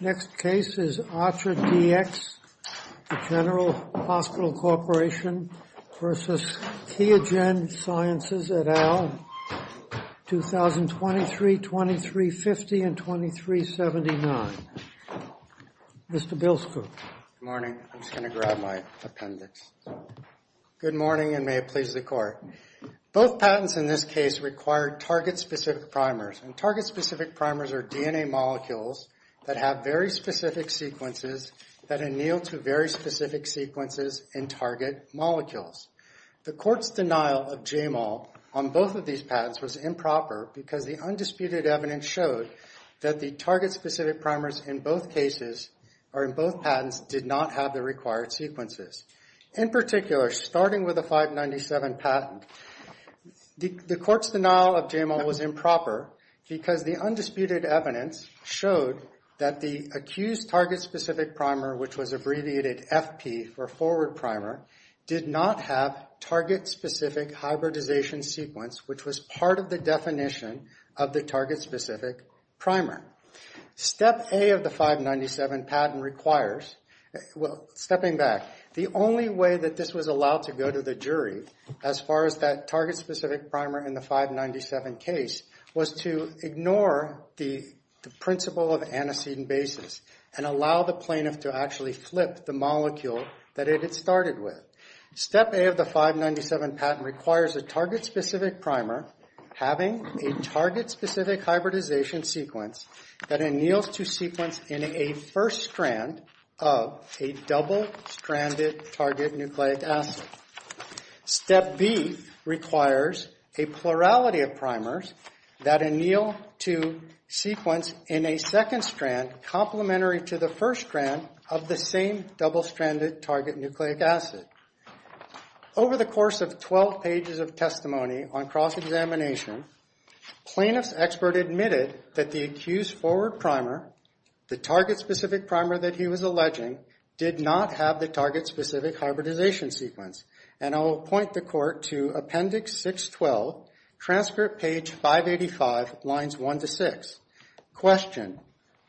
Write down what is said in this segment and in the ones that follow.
Next case is Atra DX, the General Hospital Corporation v. QIAGEN Sciences, LLC, 2023-2350 and 2379. Mr. Bilsko. Good morning. I'm just going to grab my appendix. Good morning and may it please the court. Both patents in this case required target-specific primers, and target-specific primers are DNA molecules that have very specific sequences that anneal to very specific sequences in target molecules. The court's denial of JMOL on both of these patents was improper because the undisputed evidence showed that the target-specific primers in both cases or in both patents did not have the required sequences. In particular, starting with the 597 patent, the court's denial of JMOL was improper because the undisputed evidence showed that the accused target-specific primer, which was abbreviated FP for forward primer, did not have target-specific hybridization sequence, which was part of the definition of the target-specific primer. Step A of the 597 patent requires, well, stepping back, the only way that this was allowed to go to the jury as far as that target-specific primer in the 597 case was to ignore the principle of antecedent basis and allow the plaintiff to actually flip the molecule that it had started with. Step A of the 597 patent requires a target-specific primer having a target-specific hybridization sequence that anneals to sequence in a first strand of a double-stranded target nucleic acid. Step B requires a plurality of primers that anneal to sequence in a second strand complementary to the first strand of the same double-stranded target nucleic acid. Over the course of 12 pages of testimony on cross-examination, plaintiff's expert admitted that the accused forward primer, the target-specific primer that he was alleging, did not have the target-specific hybridization sequence. And I will point the court to Appendix 612, Transcript Page 585, Lines 1 to 6. Question.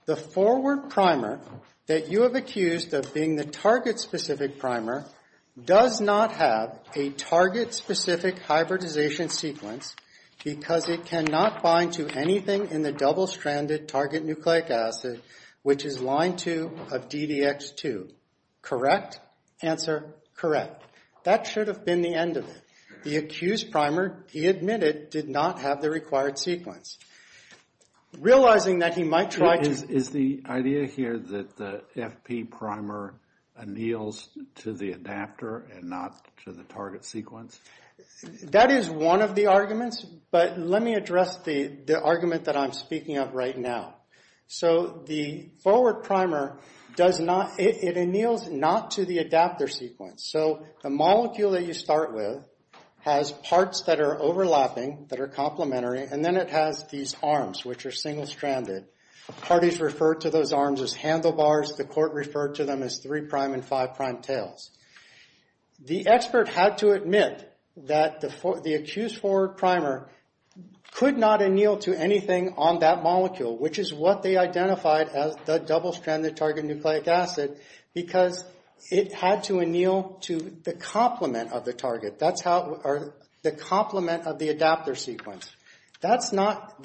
The forward primer that you have accused of being the target-specific primer does not have a target-specific hybridization sequence because it cannot bind to anything in the double-stranded target nucleic acid, which is line 2 of DDX2. Correct? Answer, correct. That should have been the end of it. The accused primer, he admitted, did not have the required sequence. Realizing that he might try to... Is the idea here that the FP primer anneals to the adapter and not to the target sequence? That is one of the arguments, but let me address the argument that I'm speaking of right now. So the forward primer does not, it anneals not to the adapter sequence. So the molecule that you start with has parts that are overlapping, that are complementary, and then it has these arms, which are single-stranded. Parties refer to those arms as handlebars. The court referred to them as three-prime and five-prime tails. The expert had to admit that the accused forward primer could not anneal to anything on that molecule, which is what they identified as the double-stranded target nucleic acid, because it had to anneal to the complement of the target. That's how... The complement of the adapter sequence. That's not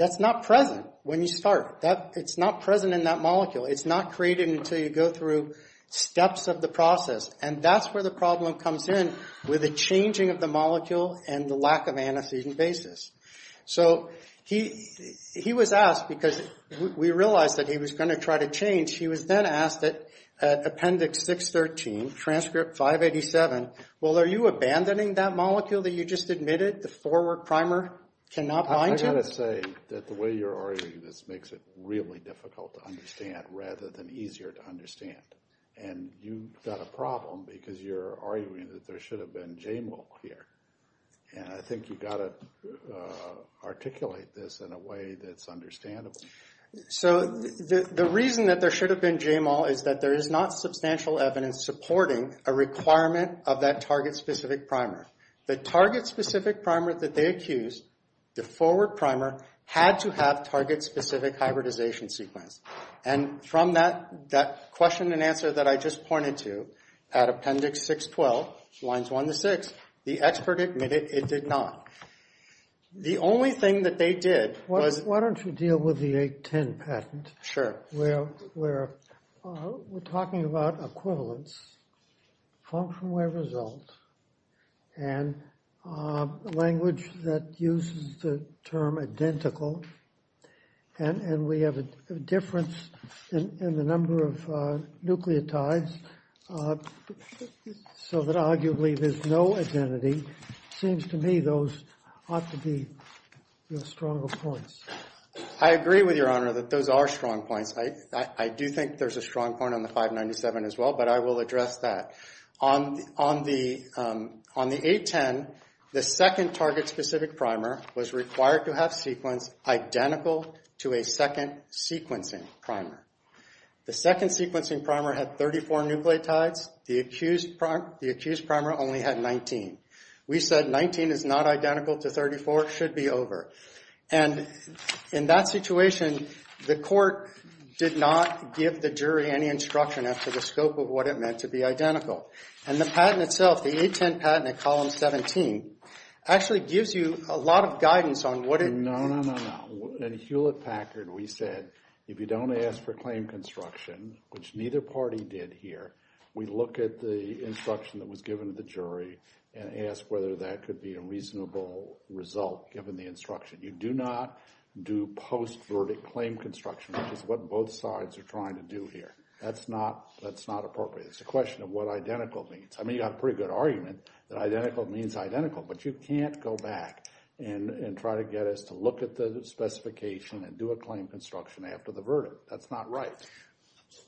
present when you start. It's not present in that molecule. It's not created until you go through steps of the process, and that's where the problem comes in, with the changing of the molecule and the lack of anesthesia basis. So he was asked, because we realized that he was going to try to change, he was then asked at Appendix 613, Transcript 587, well, are you abandoning that molecule that you just admitted the forward primer cannot bind to? I've got to say that the way you're arguing this makes it really difficult to understand, rather than easier to understand. And you've got a problem, because you're arguing that there should have been JMO here. And I think you've got to articulate this in a way that's understandable. So the reason that there should have been JMO is that there is not substantial evidence supporting a requirement of that target-specific primer. The target-specific primer that they accused, the forward primer, had to have target-specific hybridization sequence. And from that question and answer that I just pointed to at Appendix 612, lines 1 to 6, the expert admitted it did not. The only thing that they did was— Why don't you deal with the 810 patent? Sure. Where we're talking about equivalence, function where result, and language that uses the term identical, and we have a difference in the number of nucleotides, so that arguably there's no identity. It seems to me those ought to be the stronger points. I agree with Your Honor that those are strong points. I do think there's a strong point on the 597 as well, but I will address that. On the 810, the second target-specific primer was required to have sequence identical to a second sequencing primer. The second sequencing primer had 34 nucleotides. The accused primer only had 19. We said 19 is not identical to 34. It should be over. And in that situation, the court did not give the jury any instruction as to the scope of what it meant to be identical. And the patent itself, the 810 patent at Column 17, actually gives you a lot of guidance on what it— No, no, no, no. In Hewlett-Packard, we said if you don't ask for claim construction, which neither party did here, we look at the instruction that was given to the jury and ask whether that could be a reasonable result given the instruction. You do not do post-verdict claim construction, which is what both sides are trying to do here. That's not appropriate. It's a question of what identical means. I mean, you've got a pretty good argument that identical means identical, but you can't go back and try to get us to look at the specification and do a claim construction after the verdict. That's not right.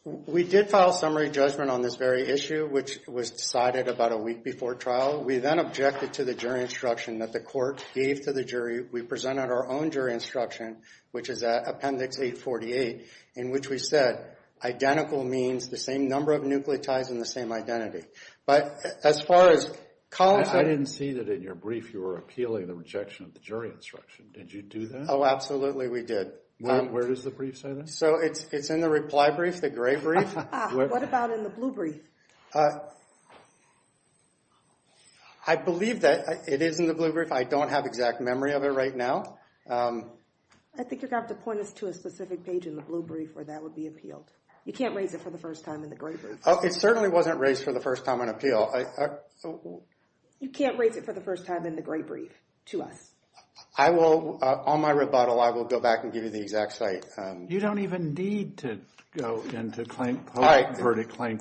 We did file summary judgment on this very issue, which was decided about a week before trial. We then objected to the jury instruction that the court gave to the jury. We presented our own jury instruction, which is Appendix 848, in which we said identical means the same number of nucleotides and the same identity. But as far as— I didn't see that in your brief you were appealing the rejection of the jury instruction. Did you do that? Oh, absolutely we did. Where does the brief say that? So it's in the reply brief, the gray brief. What about in the blue brief? I believe that it is in the blue brief. I don't have exact memory of it right now. I think you're going to have to point us to a specific page in the blue brief where that would be appealed. You can't raise it for the first time in the gray brief. It certainly wasn't raised for the first time on appeal. You can't raise it for the first time in the gray brief to us. On my rebuttal, I will go back and give you the exact site. You don't even need to go into claim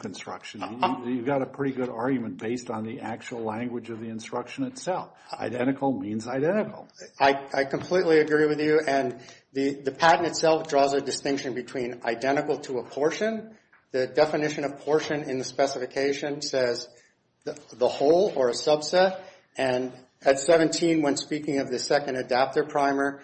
construction. You've got a pretty good argument based on the actual language of the instruction itself. Identical means identical. I completely agree with you. And the patent itself draws a distinction between identical to a portion. The definition of portion in the specification says the whole or a subset. And at 17, when speaking of the second adapter primer,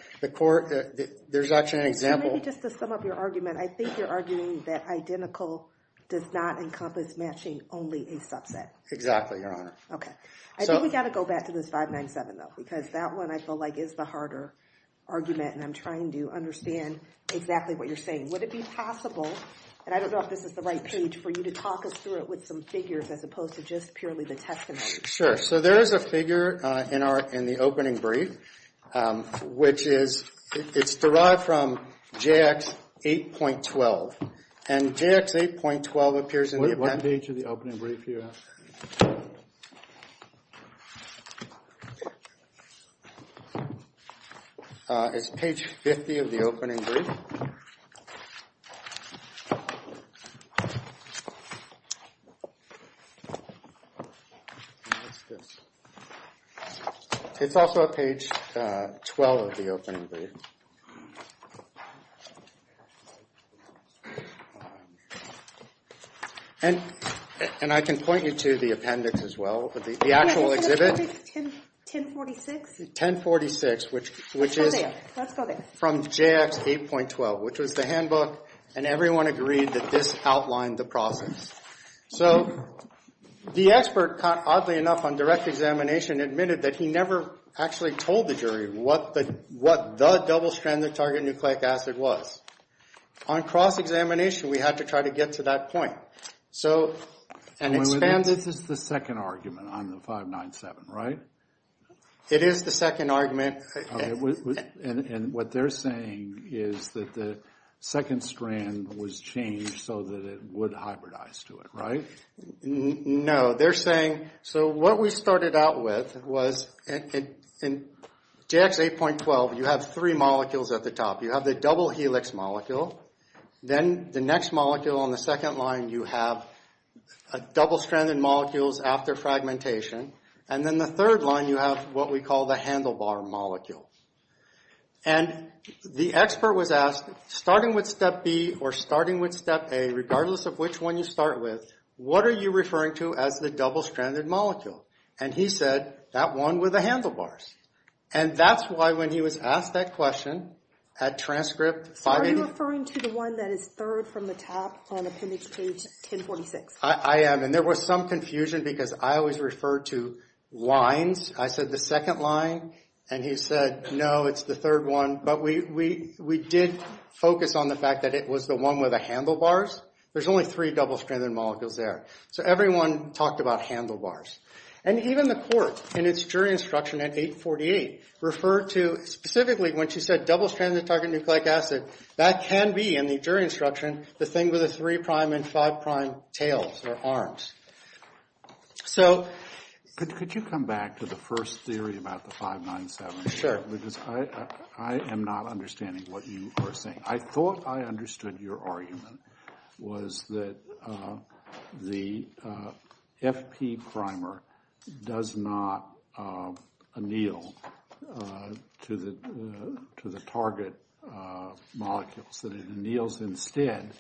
there's actually an example. Maybe just to sum up your argument, I think you're arguing that identical does not encompass matching only a subset. Exactly, Your Honor. I think we've got to go back to this 597, though, because that one I feel like is the harder argument, and I'm trying to understand exactly what you're saying. Would it be possible, and I don't know if this is the right page, for you to talk us through it with some figures as opposed to just purely the testimony? Sure. So there is a figure in the opening brief, which is derived from JX 8.12. And JX 8.12 appears in the appendix. What page of the opening brief do you have? It's page 50 of the opening brief. What's this? It's also at page 12 of the opening brief. And I can point you to the appendix as well, the actual exhibit. 1046. 1046, which is from JX 8.12, which was the handbook, and everyone agreed that this outlined the process. So the expert, oddly enough, on direct examination admitted that he never actually told the jury what the double-stranded target nucleic acid was. On cross-examination, we had to try to get to that point. And this is the second argument on the 597, right? It is the second argument. And what they're saying is that the second strand was changed so that it would hybridize to it, right? No. They're saying, so what we started out with was in JX 8.12, you have three molecules at the top. You have the double helix molecule. Then the next molecule on the second line, you have double-stranded molecules after fragmentation. And then the third line, you have what we call the handlebar molecule. And the expert was asked, starting with step B or starting with step A, regardless of which one you start with, what are you referring to as the double-stranded molecule? And he said, that one with the handlebars. And that's why when he was asked that question at transcript 580— So are you referring to the one that is third from the top on appendix page 1046? I am, and there was some confusion because I always refer to lines. I said the second line, and he said, no, it's the third one. But we did focus on the fact that it was the one with the handlebars. There's only three double-stranded molecules there. So everyone talked about handlebars. And even the court, in its jury instruction at 848, referred to specifically when she said double-stranded target nucleic acid, that can be, in the jury instruction, the thing with the three-prime and five-prime tails or arms. So— Could you come back to the first theory about the 597? Sure. Because I am not understanding what you are saying. I thought I understood your argument was that the FP primer does not anneal to the target molecules, that it anneals instead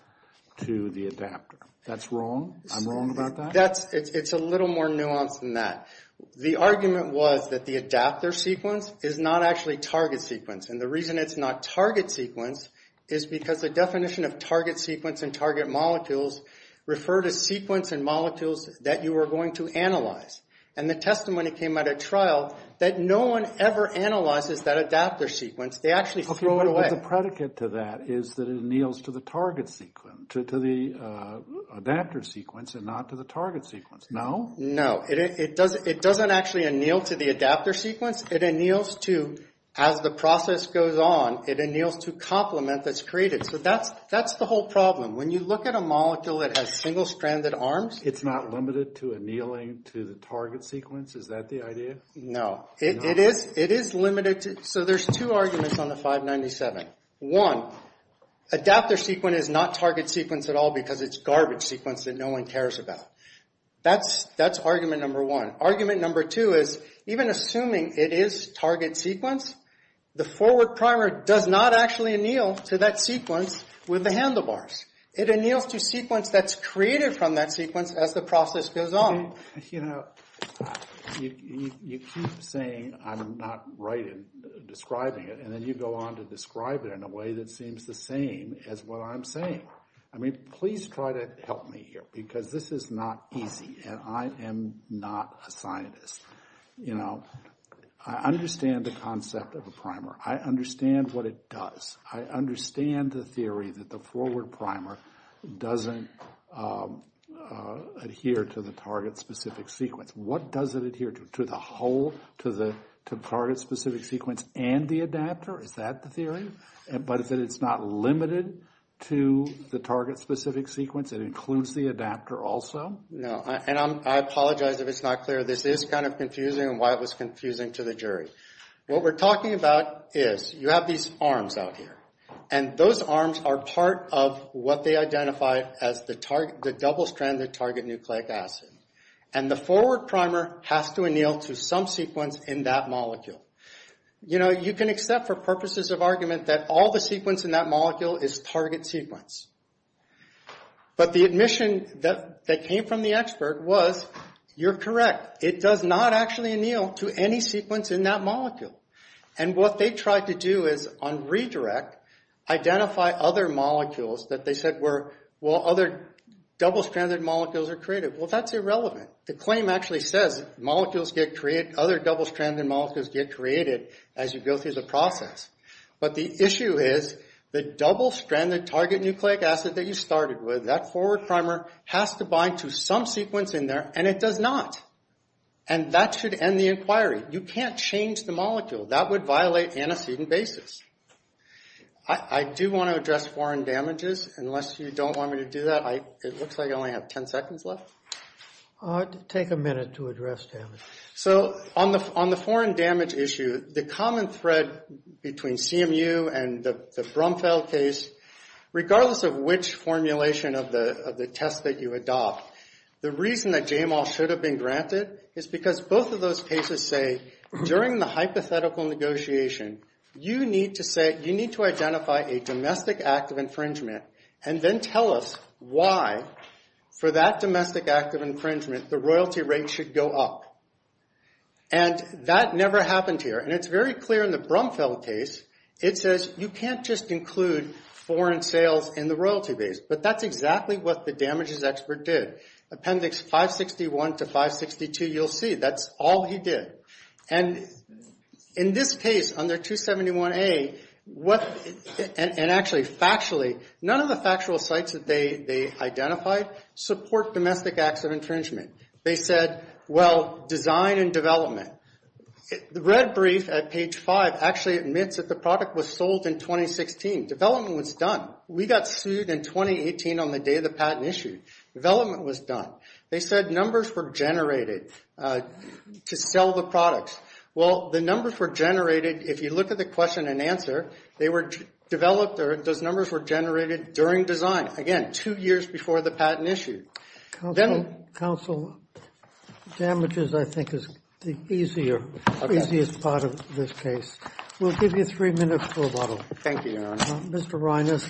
to the adapter. That's wrong? I'm wrong about that? It's a little more nuanced than that. The argument was that the adapter sequence is not actually target sequence. And the reason it's not target sequence is because the definition of target sequence and target molecules refer to sequence and molecules that you are going to analyze. And the testimony came at a trial that no one ever analyzes that adapter sequence. They actually throw it away. But the predicate to that is that it anneals to the target sequence, to the adapter sequence, and not to the target sequence. No? No. It doesn't actually anneal to the adapter sequence. It anneals to—as the process goes on, it anneals to complement that's created. So that's the whole problem. When you look at a molecule that has single-stranded arms— It's not limited to annealing to the target sequence? Is that the idea? No. It is limited to—so there's two arguments on the 597. One, adapter sequence is not target sequence at all because it's garbage sequence that no one cares about. That's argument number one. Argument number two is even assuming it is target sequence, the forward primer does not actually anneal to that sequence with the handlebars. It anneals to sequence that's created from that sequence as the process goes on. You know, you keep saying I'm not right in describing it, and then you go on to describe it in a way that seems the same as what I'm saying. I mean, please try to help me here because this is not easy, and I am not a scientist. You know, I understand the concept of a primer. I understand what it does. I understand the theory that the forward primer doesn't adhere to the target-specific sequence. What does it adhere to? To the hole, to the target-specific sequence and the adapter? Is that the theory? But is it it's not limited to the target-specific sequence? It includes the adapter also? No, and I apologize if it's not clear. This is kind of confusing and why it was confusing to the jury. What we're talking about is you have these arms out here, and those arms are part of what they identify as the double-stranded target nucleic acid, and the forward primer has to anneal to some sequence in that molecule. You know, you can accept for purposes of argument that all the sequence in that molecule is target sequence. But the admission that came from the expert was, you're correct. It does not actually anneal to any sequence in that molecule. And what they tried to do is, on redirect, identify other molecules that they said were, well, other double-stranded molecules are created. Well, that's irrelevant. The claim actually says other double-stranded molecules get created as you go through the process. But the issue is the double-stranded target nucleic acid that you started with, that forward primer has to bind to some sequence in there, and it does not. And that should end the inquiry. You can't change the molecule. That would violate antecedent basis. I do want to address foreign damages. Unless you don't want me to do that, it looks like I only have 10 seconds left. Take a minute to address damage. So on the foreign damage issue, the common thread between CMU and the Brumfeld case, regardless of which formulation of the test that you adopt, the reason that JMOL should have been granted is because both of those cases say, during the hypothetical negotiation, you need to identify a domestic act of infringement and then tell us why, for that domestic act of infringement, the royalty rate should go up. And that never happened here. And it's very clear in the Brumfeld case. It says you can't just include foreign sales in the royalty base. But that's exactly what the damages expert did. Appendix 561 to 562, you'll see, that's all he did. And in this case, under 271A, and actually factually, none of the factual sites that they identified support domestic acts of infringement. They said, well, design and development. The red brief at page 5 actually admits that the product was sold in 2016. Development was done. We got sued in 2018 on the day the patent issued. Development was done. They said numbers were generated to sell the products. Well, the numbers were generated, if you look at the question and answer, they were developed or those numbers were generated during design, again, two years before the patent issue. Counsel, damages, I think, is the easiest part of this case. We'll give you three minutes for a bottle. Thank you, Your Honor. Mr. Reines,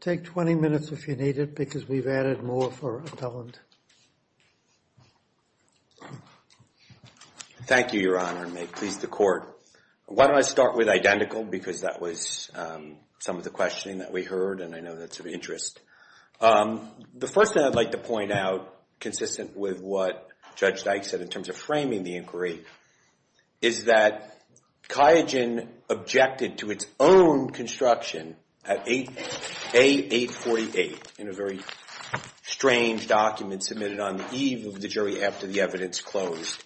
take 20 minutes if you need it, because we've added more for appellant. Thank you, Your Honor, and may it please the Court. Why don't I start with identical, because that was some of the questioning that we heard, and I know that's of interest. The first thing I'd like to point out, consistent with what Judge Dyke said in terms of framing the inquiry, is that QIAGEN objected to its own construction at A848 in a very strange document submitted on the eve of the jury after the evidence closed,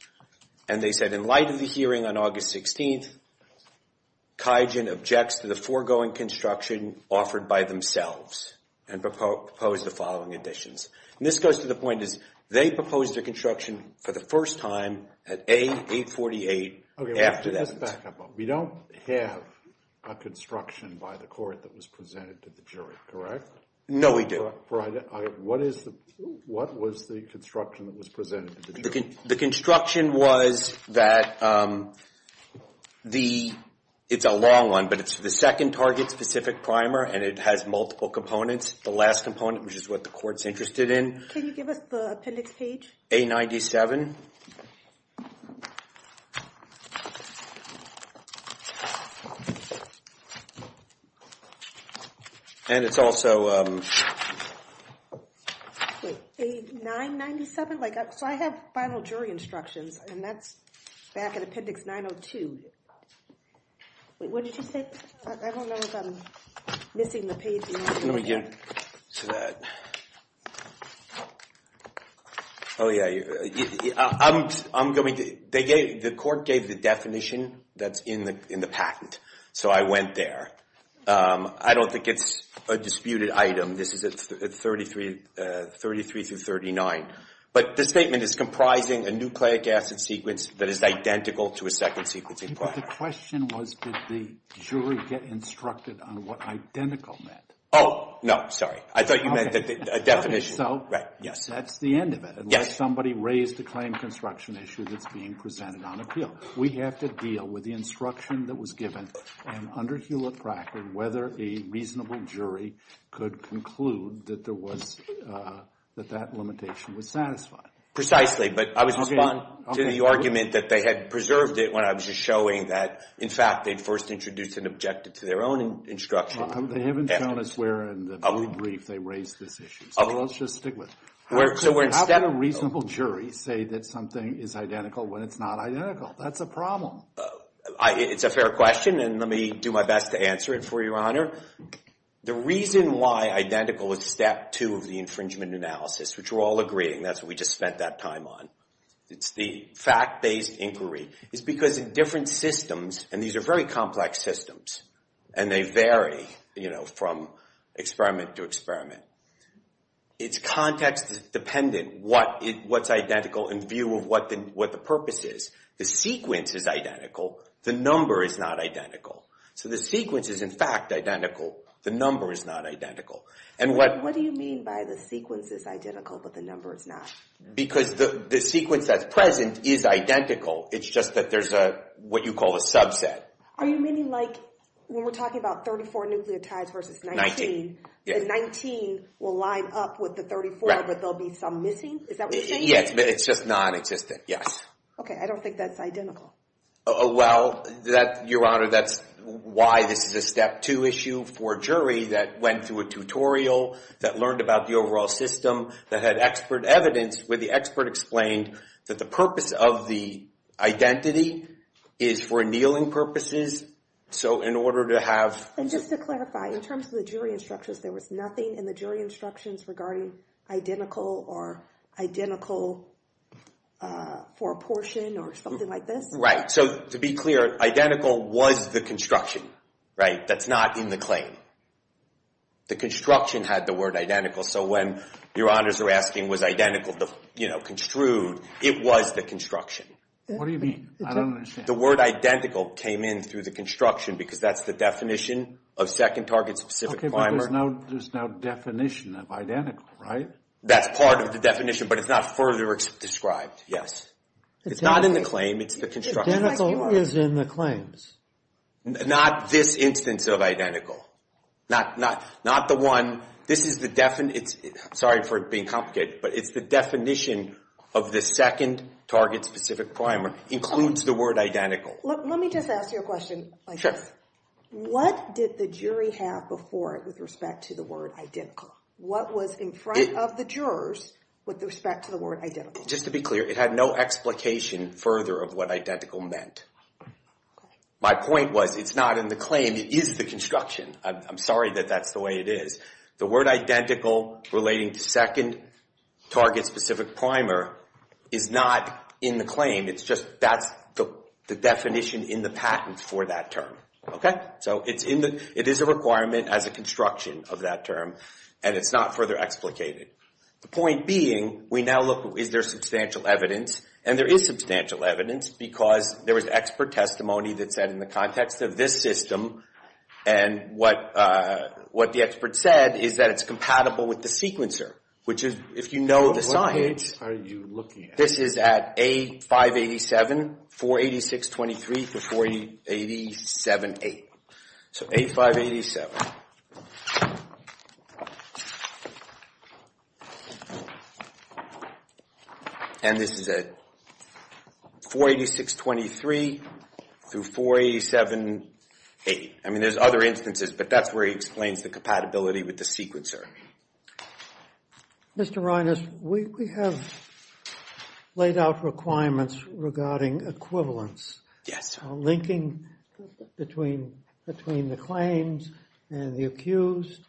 and they said in light of the hearing on August 16th, QIAGEN objects to the foregoing construction offered by themselves and proposed the following additions. This goes to the point is they proposed a construction for the first time at A848 after that. Let's back up. We don't have a construction by the Court that was presented to the jury, correct? No, we do. What was the construction that was presented to the jury? The construction was that the—it's a long one, but it's the second target-specific primer, and it has multiple components. The last component, which is what the Court's interested in. Can you give us the appendix page? A97. And it's also— Wait, A997? So I have final jury instructions, and that's back at appendix 902. Wait, what did you say? I don't know if I'm missing the page. Let me get to that. Oh, yeah, I'm going to—the Court gave the definition that's in the patent, so I went there. I don't think it's a disputed item. This is at 33 through 39. But the statement is comprising a nucleic acid sequence that is identical to a second sequencing primer. But the question was, did the jury get instructed on what identical meant? Oh, no, sorry. I thought you meant a definition. So that's the end of it. Unless somebody raised a claim construction issue that's being presented on appeal. We have to deal with the instruction that was given, and under Hewlett-Packard, whether a reasonable jury could conclude that that limitation was satisfied. Precisely, but I was responding to the argument that they had preserved it when I was just showing that, in fact, they'd first introduced and objected to their own instruction. They haven't shown us where in the brief they raised this issue, so let's just stick with it. How can a reasonable jury say that something is identical when it's not identical? That's a problem. It's a fair question, and let me do my best to answer it for your honor. The reason why identical is step two of the infringement analysis, which we're all agreeing, that's what we just spent that time on. It's the fact-based inquiry. It's because in different systems, and these are very complex systems, and they vary from experiment to experiment, it's context-dependent what's identical in view of what the purpose is. The sequence is identical. The number is not identical. So the sequence is, in fact, identical. The number is not identical. What do you mean by the sequence is identical, but the number is not? Because the sequence that's present is identical. It's just that there's what you call a subset. Are you meaning like when we're talking about 34 nucleotides versus 19, the 19 will line up with the 34, but there'll be some missing? Is that what you're saying? Yes, but it's just non-existent, yes. Okay, I don't think that's identical. Well, Your Honor, that's why this is a step two issue for a jury that went through a tutorial, that learned about the overall system, that had expert evidence where the expert explained that the purpose of the identity is for annealing purposes. So in order to have— And just to clarify, in terms of the jury instructions, there was nothing in the jury instructions regarding identical or identical for a portion or something like this? So to be clear, identical was the construction, right? That's not in the claim. The construction had the word identical, so when Your Honors are asking was identical the construed, it was the construction. What do you mean? I don't understand. The word identical came in through the construction because that's the definition of second target-specific primer. Okay, but there's no definition of identical, right? That's part of the definition, but it's not further described, yes. It's not in the claim. It's the construction. Identical is in the claims. Not this instance of identical. Not the one. This is the—I'm sorry for being complicated, but it's the definition of the second target-specific primer includes the word identical. Let me just ask you a question like this. Sure. What did the jury have before it with respect to the word identical? What was in front of the jurors with respect to the word identical? Just to be clear, it had no explication further of what identical meant. My point was it's not in the claim. It is the construction. I'm sorry that that's the way it is. The word identical relating to second target-specific primer is not in the claim. It's just that's the definition in the patent for that term. So it is a requirement as a construction of that term, and it's not further explicated. The point being, we now look, is there substantial evidence? And there is substantial evidence because there was expert testimony that said in the context of this system, and what the expert said is that it's compatible with the sequencer, which is, if you know the science— What page are you looking at? This is at A587, 48623-4878. So A587. And this is at 48623-4878. I mean, there's other instances, but that's where he explains the compatibility with the sequencer. Mr. Reines, we have laid out requirements regarding equivalence. Yes. Linking between the claims and the accused,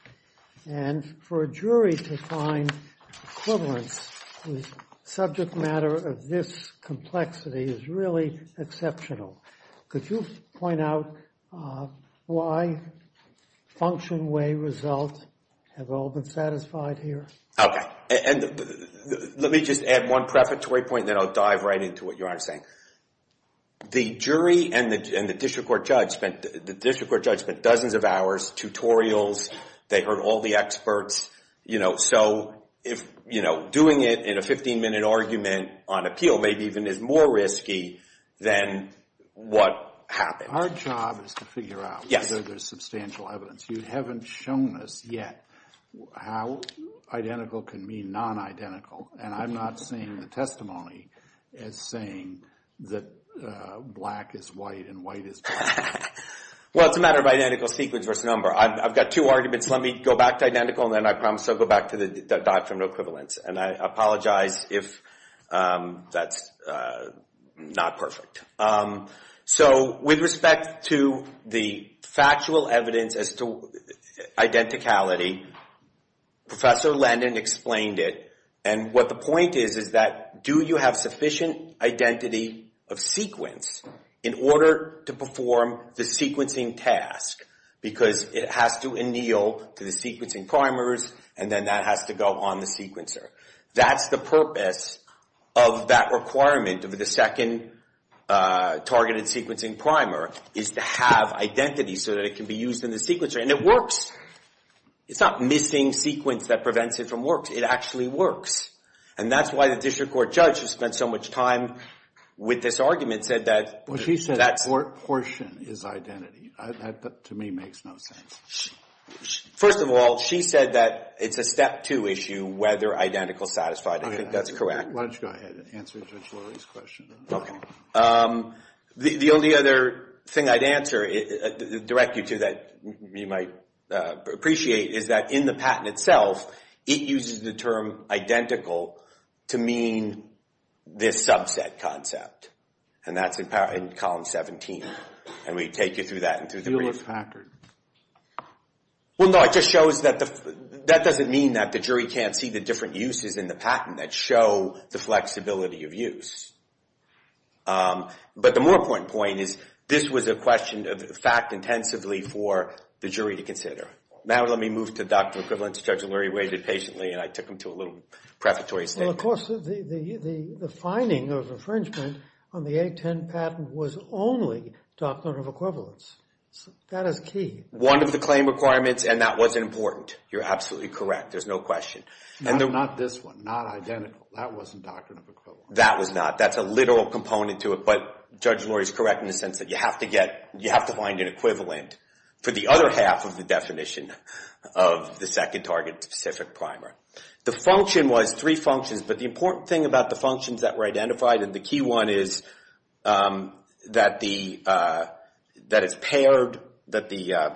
and for a jury to find equivalence with subject matter of this complexity is really exceptional. Could you point out why function, way, result have all been satisfied here? Okay. And let me just add one prefatory point, and then I'll dive right into what Your Honor is saying. The jury and the district court judge spent dozens of hours, tutorials. They heard all the experts. So doing it in a 15-minute argument on appeal maybe even is more risky than what happened. Our job is to figure out whether there's substantial evidence. You haven't shown us yet how identical can mean non-identical, and I'm not seeing the testimony as saying that black is white and white is black. Well, it's a matter of identical sequence versus number. I've got two arguments. Let me go back to identical, and then I promise I'll go back to the doctrinal equivalence. And I apologize if that's not perfect. So with respect to the factual evidence as to identicality, Professor Landon explained it, and what the point is is that do you have sufficient identity of sequence in order to perform the sequencing task? Because it has to anneal to the sequencing primers, and then that has to go on the sequencer. That's the purpose of that requirement of the second targeted sequencing primer is to have identity so that it can be used in the sequencer. And it works. It's not missing sequence that prevents it from working. It actually works. And that's why the district court judge, who spent so much time with this argument, said that that's... Well, she said that portion is identity. That, to me, makes no sense. First of all, she said that it's a step two issue, whether identical is satisfied. I think that's correct. Why don't you go ahead and answer Judge Lurie's question. Okay. The only other thing I'd answer, direct you to, that you might appreciate, is that in the patent itself, it uses the term identical to mean this subset concept. And that's in column 17. And we take you through that and through the brief. It was factored. Well, no, it just shows that the... That doesn't mean that the jury can't see the different uses in the patent that show the flexibility of use. But the more important point is this was a question of fact intensively for the jury to consider. Now let me move to Dr. Equivalent. Judge Lurie waited patiently, and I took him to a little preparatory statement. Well, of course, the finding of infringement on the 810 patent was only doctrine of equivalence. That is key. One of the claim requirements, and that wasn't important. You're absolutely correct. There's no question. Not this one, not identical. That wasn't doctrine of equivalence. That was not. That's a literal component to it. But Judge Lurie's correct in the sense that you have to find an equivalent for the other half of the definition of the second target-specific primer. The function was three functions, but the important thing about the functions that were identified, and the key one is that it's paired, that the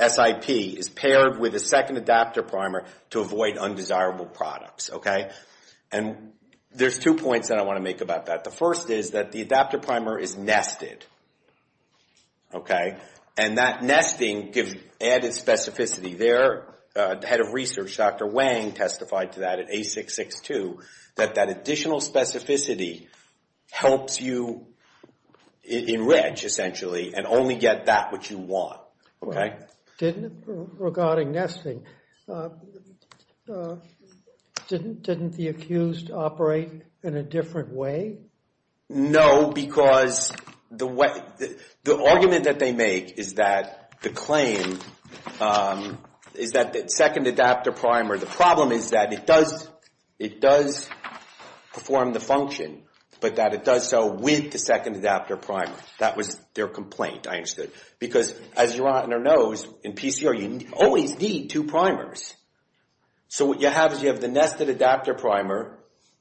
SIP is paired with a second adapter primer to avoid undesirable products. And there's two points that I want to make about that. The first is that the adapter primer is nested. And that nesting gives added specificity. The head of research, Dr. Wang, testified to that at A662, that that additional specificity helps you enrich, essentially, and only get that which you want. Regarding nesting, didn't the accused operate in a different way? No, because the argument that they make is that the claim, is that the second adapter primer, the problem is that it does perform the function, but that it does so with the second adapter primer. That was their complaint, I understood. Because, as your honor knows, in PCR, you always need two primers. So what you have is you have the nested adapter primer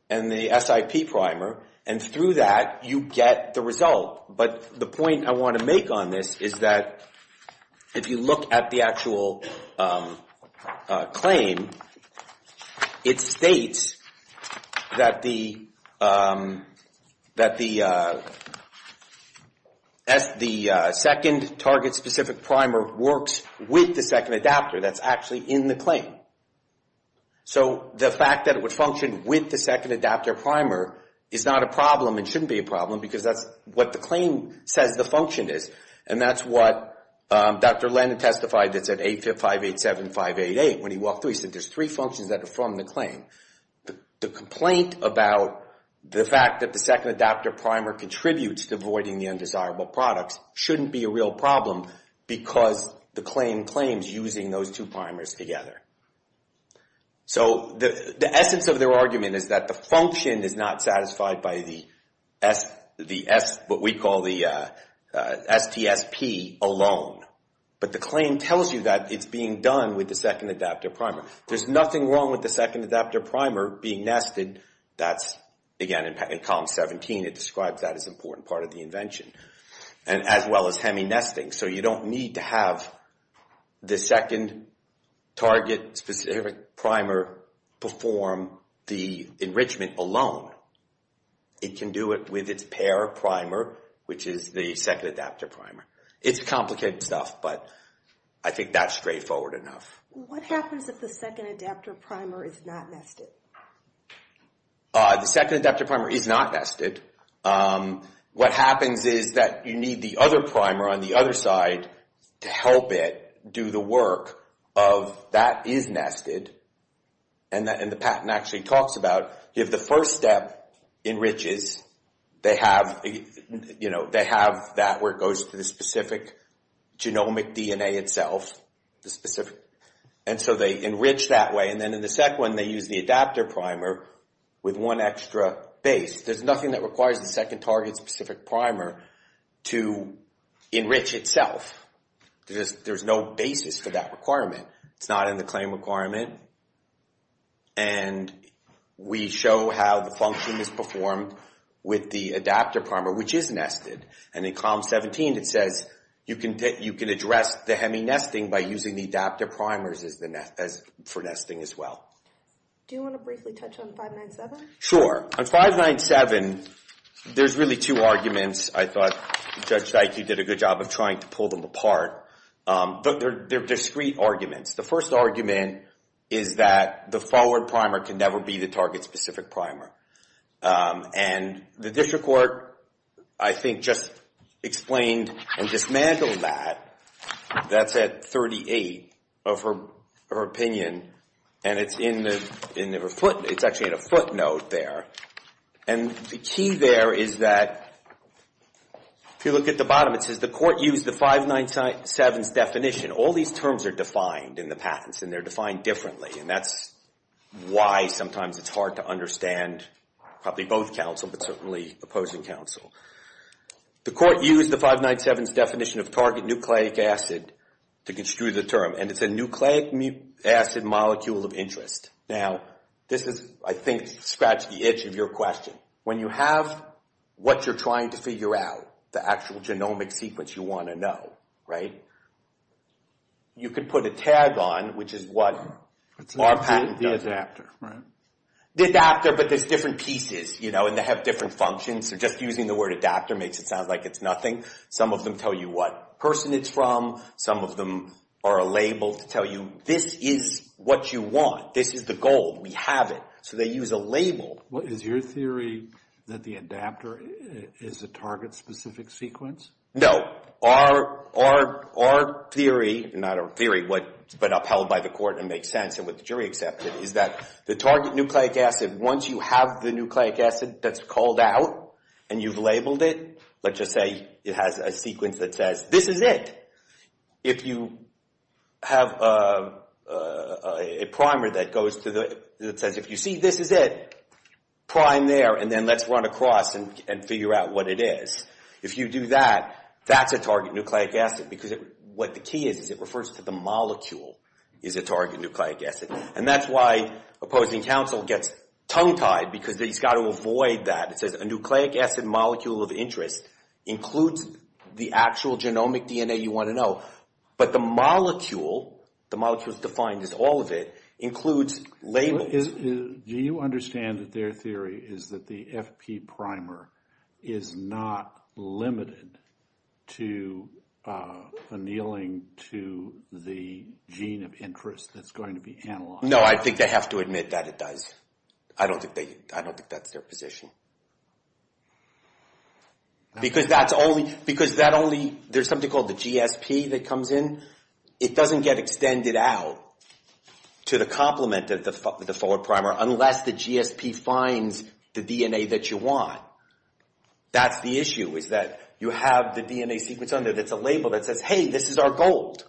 and the SIP primer, and through that you get the result. But the point I want to make on this is that if you look at the actual claim, it states that the second target-specific primer works with the second adapter. That's actually in the claim. So the fact that it would function with the second adapter primer is not a problem and shouldn't be a problem, because that's what the claim says the function is. And that's what Dr. Lennon testified that's at 8587588. When he walked through, he said there's three functions that are from the claim. The complaint about the fact that the second adapter primer contributes to avoiding the undesirable products shouldn't be a real problem, because the claim claims using those two primers together. So the essence of their argument is that the function is not satisfied by the S, what we call the STSP alone. But the claim tells you that it's being done with the second adapter primer. There's nothing wrong with the second adapter primer being nested. That's, again, in column 17, it describes that as an important part of the invention, as well as hemi-nesting, so you don't need to have the second target-specific primer perform the enrichment alone. It can do it with its pair primer, which is the second adapter primer. It's complicated stuff, but I think that's straightforward enough. What happens if the second adapter primer is not nested? The second adapter primer is not nested. What happens is that you need the other primer on the other side to help it do the work of that is nested, and the patent actually talks about if the first step enriches, they have that where it goes to the specific genomic DNA itself, and so they enrich that way. And then in the second one, they use the adapter primer with one extra base. There's nothing that requires the second target-specific primer to enrich itself. There's no basis for that requirement. It's not in the claim requirement. And we show how the function is performed with the adapter primer, which is nested. And in column 17, it says you can address the hemi-nesting by using the adapter primers for nesting as well. Do you want to briefly touch on 597? Sure. On 597, there's really two arguments. I thought Judge Dikey did a good job of trying to pull them apart. But they're discrete arguments. The first argument is that the forward primer can never be the target-specific primer. And the district court, I think, just explained and dismantled that. That's at 38 of her opinion. And it's actually in a footnote there. And the key there is that if you look at the bottom, it says the court used the 597's definition. All these terms are defined in the patents, and they're defined differently. And that's why sometimes it's hard to understand probably both counsel but certainly opposing counsel. The court used the 597's definition of target nucleic acid to construe the term. And it's a nucleic acid molecule of interest. Now, this is, I think, to scratch the itch of your question. When you have what you're trying to figure out, the actual genomic sequence you want to know, right, you could put a tag on, which is what our patent does. It's the adapter, right? The adapter, but there's different pieces, you know, and they have different functions. So just using the word adapter makes it sound like it's nothing. Some of them tell you what person it's from. Some of them are a label to tell you this is what you want. This is the goal. We have it. So they use a label. Is your theory that the adapter is a target-specific sequence? No. Our theory, not our theory, but upheld by the court and makes sense and what the jury accepted, is that the target nucleic acid, once you have the nucleic acid that's called out and you've labeled it, let's just say it has a sequence that says, this is it. If you have a primer that goes to the, that says, if you see this is it, prime there, and then let's run across and figure out what it is. If you do that, that's a target nucleic acid because what the key is, is it refers to the molecule is a target nucleic acid. And that's why opposing counsel gets tongue-tied because he's got to avoid that. It says a nucleic acid molecule of interest includes the actual genomic DNA you want to know, but the molecule, the molecule is defined as all of it, includes labels. Do you understand that their theory is that the FP primer is not limited to annealing to the gene of interest that's going to be analyzed? No, I think they have to admit that it does. I don't think that's their position. Because that's only, because that only, there's something called the GSP that comes in. It doesn't get extended out to the complement of the forward primer unless the GSP finds the DNA that you want. That's the issue is that you have the DNA sequence on there that's a label that says, hey, this is our gold.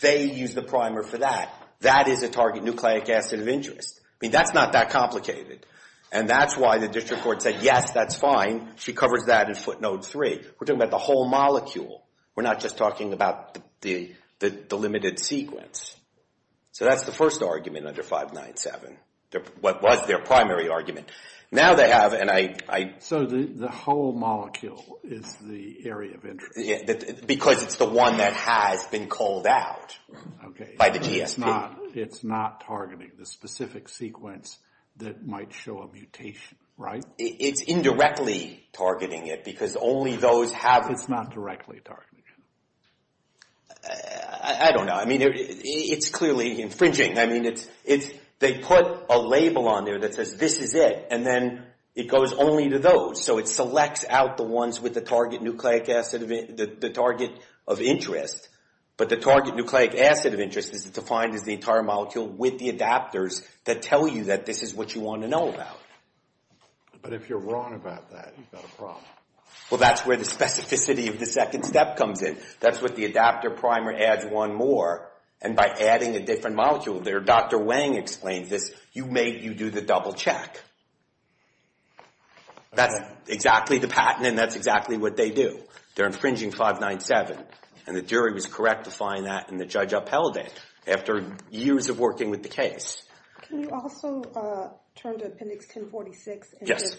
They use the primer for that. That is a target nucleic acid of interest. I mean, that's not that complicated. And that's why the district court said, yes, that's fine. She covers that in footnote three. We're talking about the whole molecule. We're not just talking about the limited sequence. So that's the first argument under 597, what was their primary argument. Now they have, and I. So the whole molecule is the area of interest. Because it's the one that has been called out by the GSP. It's not targeting the specific sequence that might show a mutation, right? It's indirectly targeting it because only those have it. It's not directly targeting it. I don't know. I mean, it's clearly infringing. I mean, they put a label on there that says this is it. And then it goes only to those. So it selects out the ones with the target nucleic acid, the target of interest. But the target nucleic acid of interest is defined as the entire molecule with the adapters that tell you that this is what you want to know about. But if you're wrong about that, you've got a problem. Well, that's where the specificity of the second step comes in. That's what the adapter primer adds one more. And by adding a different molecule there, Dr. Wang explains this. You do the double check. That's exactly the patent, and that's exactly what they do. They're infringing 597. And the jury was correct to find that, and the judge upheld it after years of working with the case. Can you also turn to Appendix 1046? Yes.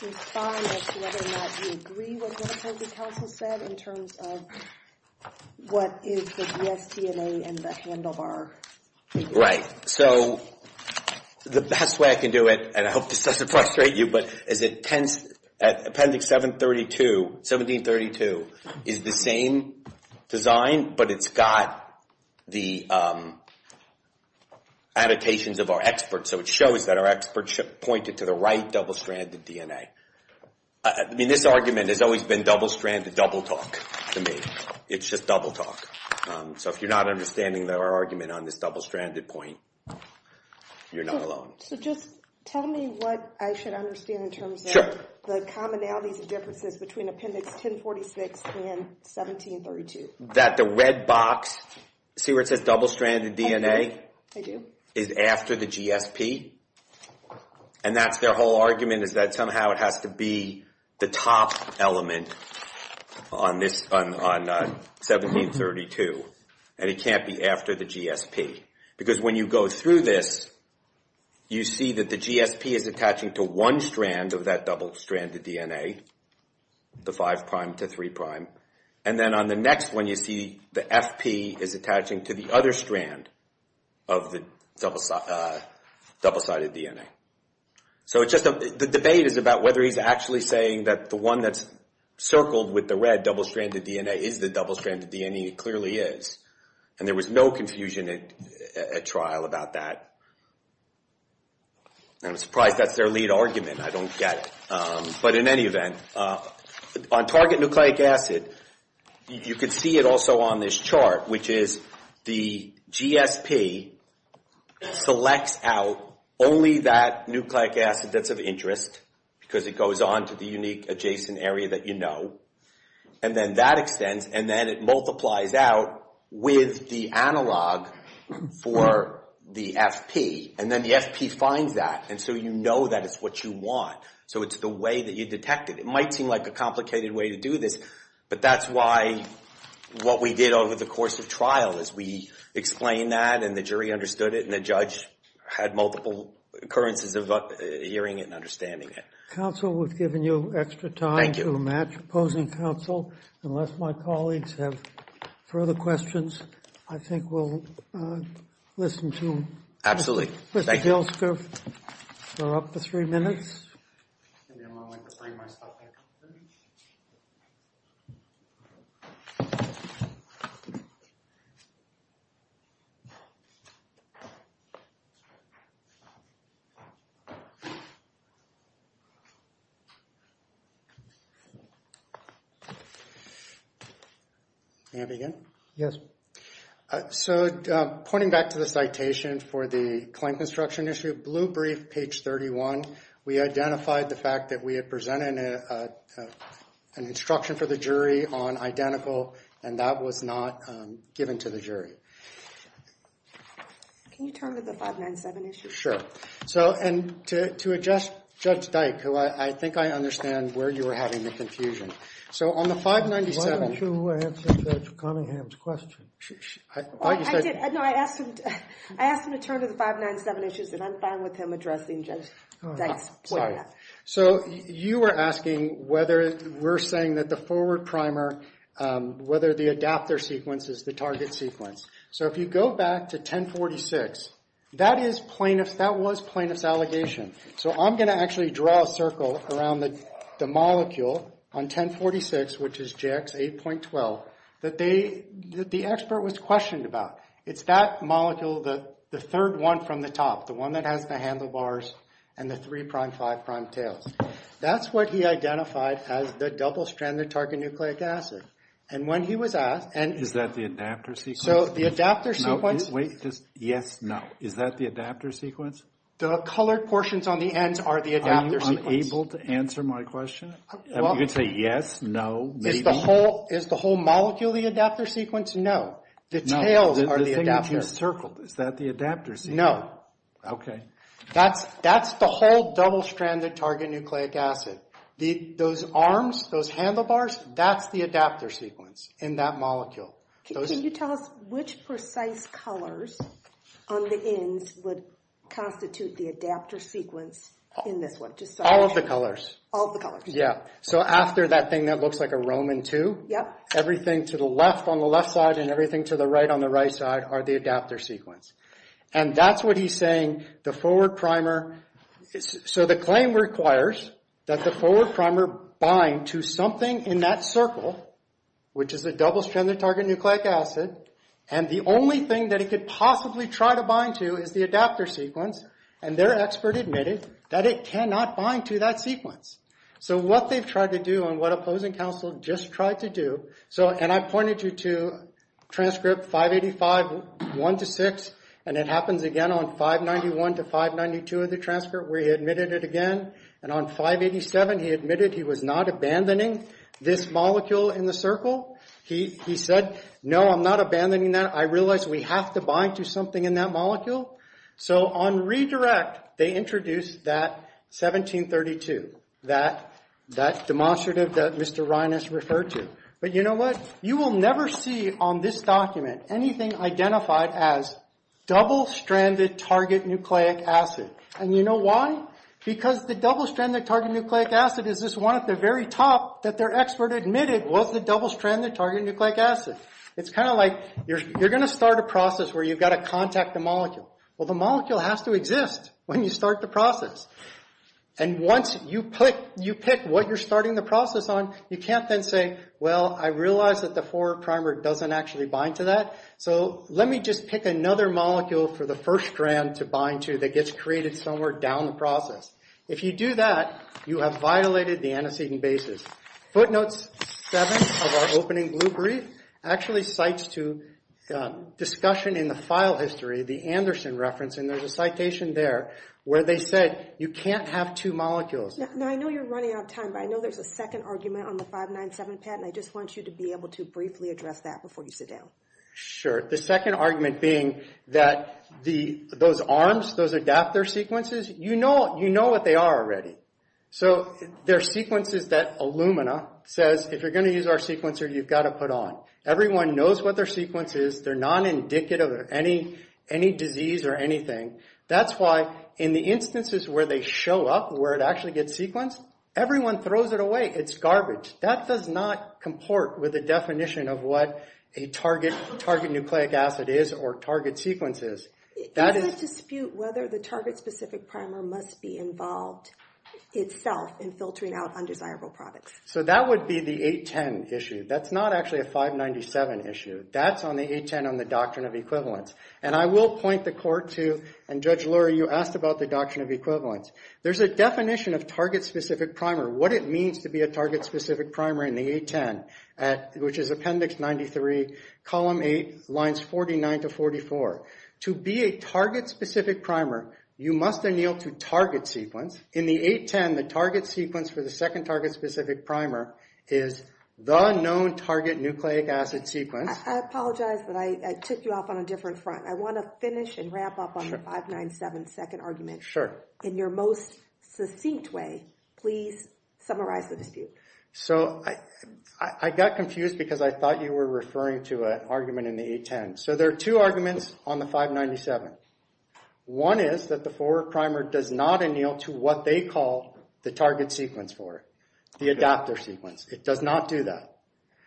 To find out whether or not you agree with what the counsel said in terms of what is the BSTNA and the handlebar? Right. So the best way I can do it, and I hope this doesn't frustrate you, but is that Appendix 1732 is the same design, but it's got the annotations of our experts, so it shows that our experts pointed to the right double-stranded DNA. I mean, this argument has always been double-stranded double-talk to me. It's just double-talk. So if you're not understanding our argument on this double-stranded point, you're not alone. So just tell me what I should understand in terms of the commonalities and differences between Appendix 1046 and 1732. That the red box, see where it says double-stranded DNA? I do. is after the GSP, and that's their whole argument is that somehow it has to be the top element on 1732, and it can't be after the GSP. Because when you go through this, you see that the GSP is attaching to one strand of that double-stranded DNA, the 5' to 3'. And then on the next one, you see the FP is attaching to the other strand of the double-sided DNA. So the debate is about whether he's actually saying that the one that's circled with the red double-stranded DNA is the double-stranded DNA. It clearly is. And there was no confusion at trial about that. And I'm surprised that's their lead argument. I don't get it. But in any event, on target nucleic acid, you can see it also on this chart, which is the GSP selects out only that nucleic acid that's of interest, because it goes on to the unique adjacent area that you know. And then that extends, and then it multiplies out with the analog for the FP. And then the FP finds that, and so you know that it's what you want. So it's the way that you detect it. It might seem like a complicated way to do this, but that's why what we did over the course of trial is we explained that, and the jury understood it, and the judge had multiple occurrences of hearing it and understanding it. Counsel, we've given you extra time to match opposing counsel. Unless my colleagues have further questions, I think we'll listen to Mr. Gilsker for up to three minutes. Maybe I'm going to bring my stuff back. Can you hear me again? Yes. So pointing back to the citation for the claim construction issue, blue brief, page 31, we identified the fact that we had presented an instruction for the jury on identical, and that was not given to the jury. Can you turn to the 597 issue? Sure. And to address Judge Dyke, who I think I understand where you were having the confusion. Why don't you answer Judge Cunningham's question? I did. No, I asked him to turn to the 597 issues, and I'm fine with him addressing Judge Dyke's point. Sorry. So you were asking whether we're saying that the forward primer, whether the adapter sequence is the target sequence. So if you go back to 1046, that was plaintiff's allegation. So I'm going to actually draw a circle around the molecule on 1046, which is JX8.12, that the expert was questioned about. It's that molecule, the third one from the top, the one that has the handlebars and the three-prime, five-prime tails. That's what he identified as the double-stranded target nucleic acid. And when he was asked— Is that the adapter sequence? So the adapter sequence— No, wait. Yes, no. Is that the adapter sequence? The colored portions on the ends are the adapter sequence. Are you unable to answer my question? You can say yes, no, maybe. Is the whole molecule the adapter sequence? No. The tails are the adapter. No, the thing that you circled, is that the adapter sequence? No. Okay. That's the whole double-stranded target nucleic acid. Those arms, those handlebars, that's the adapter sequence in that molecule. Can you tell us which precise colors on the ends would constitute the adapter sequence in this one? All of the colors. All of the colors. Yeah. So after that thing that looks like a Roman II? Yep. Everything to the left on the left side and everything to the right on the right side are the adapter sequence. And that's what he's saying, the forward primer— And the only thing that it could possibly try to bind to is the adapter sequence. And their expert admitted that it cannot bind to that sequence. So what they've tried to do and what opposing counsel just tried to do— And I pointed you to transcript 585.1-6. And it happens again on 591-592 of the transcript where he admitted it again. And on 587 he admitted he was not abandoning this molecule in the circle. He said, no, I'm not abandoning that. I realize we have to bind to something in that molecule. So on redirect they introduced that 1732, that demonstrative that Mr. Reines referred to. But you know what? You will never see on this document anything identified as double-stranded target nucleic acid. And you know why? Because the double-stranded target nucleic acid is this one at the very top that their expert admitted was the double-stranded target nucleic acid. It's kind of like you're going to start a process where you've got to contact the molecule. Well, the molecule has to exist when you start the process. And once you pick what you're starting the process on, you can't then say, well, I realize that the forward primer doesn't actually bind to that. So let me just pick another molecule for the first strand to bind to that gets created somewhere down the process. If you do that, you have violated the antecedent basis. Footnotes 7 of our opening blue brief actually cites to discussion in the file history, the Anderson reference, and there's a citation there where they said you can't have two molecules. Now, I know you're running out of time, but I know there's a second argument on the 597 patent. I just want you to be able to briefly address that before you sit down. Sure. The second argument being that those arms, those adapter sequences, you know what they are already. So they're sequences that Illumina says if you're going to use our sequencer, you've got to put on. Everyone knows what their sequence is. They're non-indicative of any disease or anything. That's why in the instances where they show up, where it actually gets sequenced, everyone throws it away. It's garbage. That does not comport with the definition of what a target nucleic acid is or target sequence is. It's a dispute whether the target specific primer must be involved itself in filtering out undesirable products. So that would be the 810 issue. That's not actually a 597 issue. That's on the 810 on the doctrine of equivalence. And I will point the court to, and Judge Lurie, you asked about the doctrine of equivalence. There's a definition of target specific primer. What it means to be a target specific primer in the 810, which is Appendix 93, Column 8, Lines 49 to 44. To be a target specific primer, you must anneal to target sequence. In the 810, the target sequence for the second target specific primer is the known target nucleic acid sequence. I apologize, but I took you off on a different front. I want to finish and wrap up on the 597 second argument. Sure. In your most succinct way, please summarize the dispute. So I got confused because I thought you were referring to an argument in the 810. So there are two arguments on the 597. One is that the forward primer does not anneal to what they call the target sequence for, the adapter sequence. It does not do that.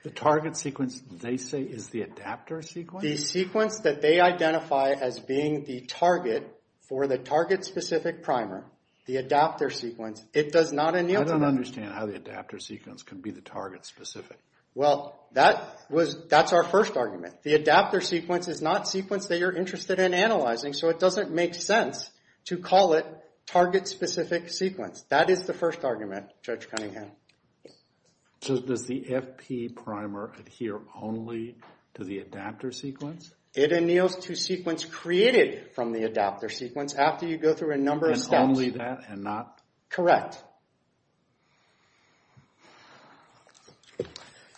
The target sequence, they say, is the adapter sequence? The sequence that they identify as being the target for the target specific primer, the adapter sequence, it does not anneal to that. I don't understand how the adapter sequence can be the target specific. Well, that's our first argument. The adapter sequence is not a sequence that you're interested in analyzing, so it doesn't make sense to call it target specific sequence. That is the first argument, Judge Cunningham. So does the FP primer adhere only to the adapter sequence? It anneals to sequence created from the adapter sequence after you go through a number of steps. And only that and not?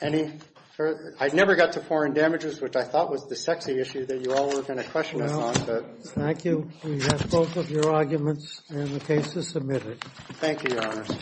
Any further? I never got to foreign damages, which I thought was the sexy issue that you all were going to question us on. Thank you. We have both of your arguments, and the case is submitted. Thank you, Your Honor.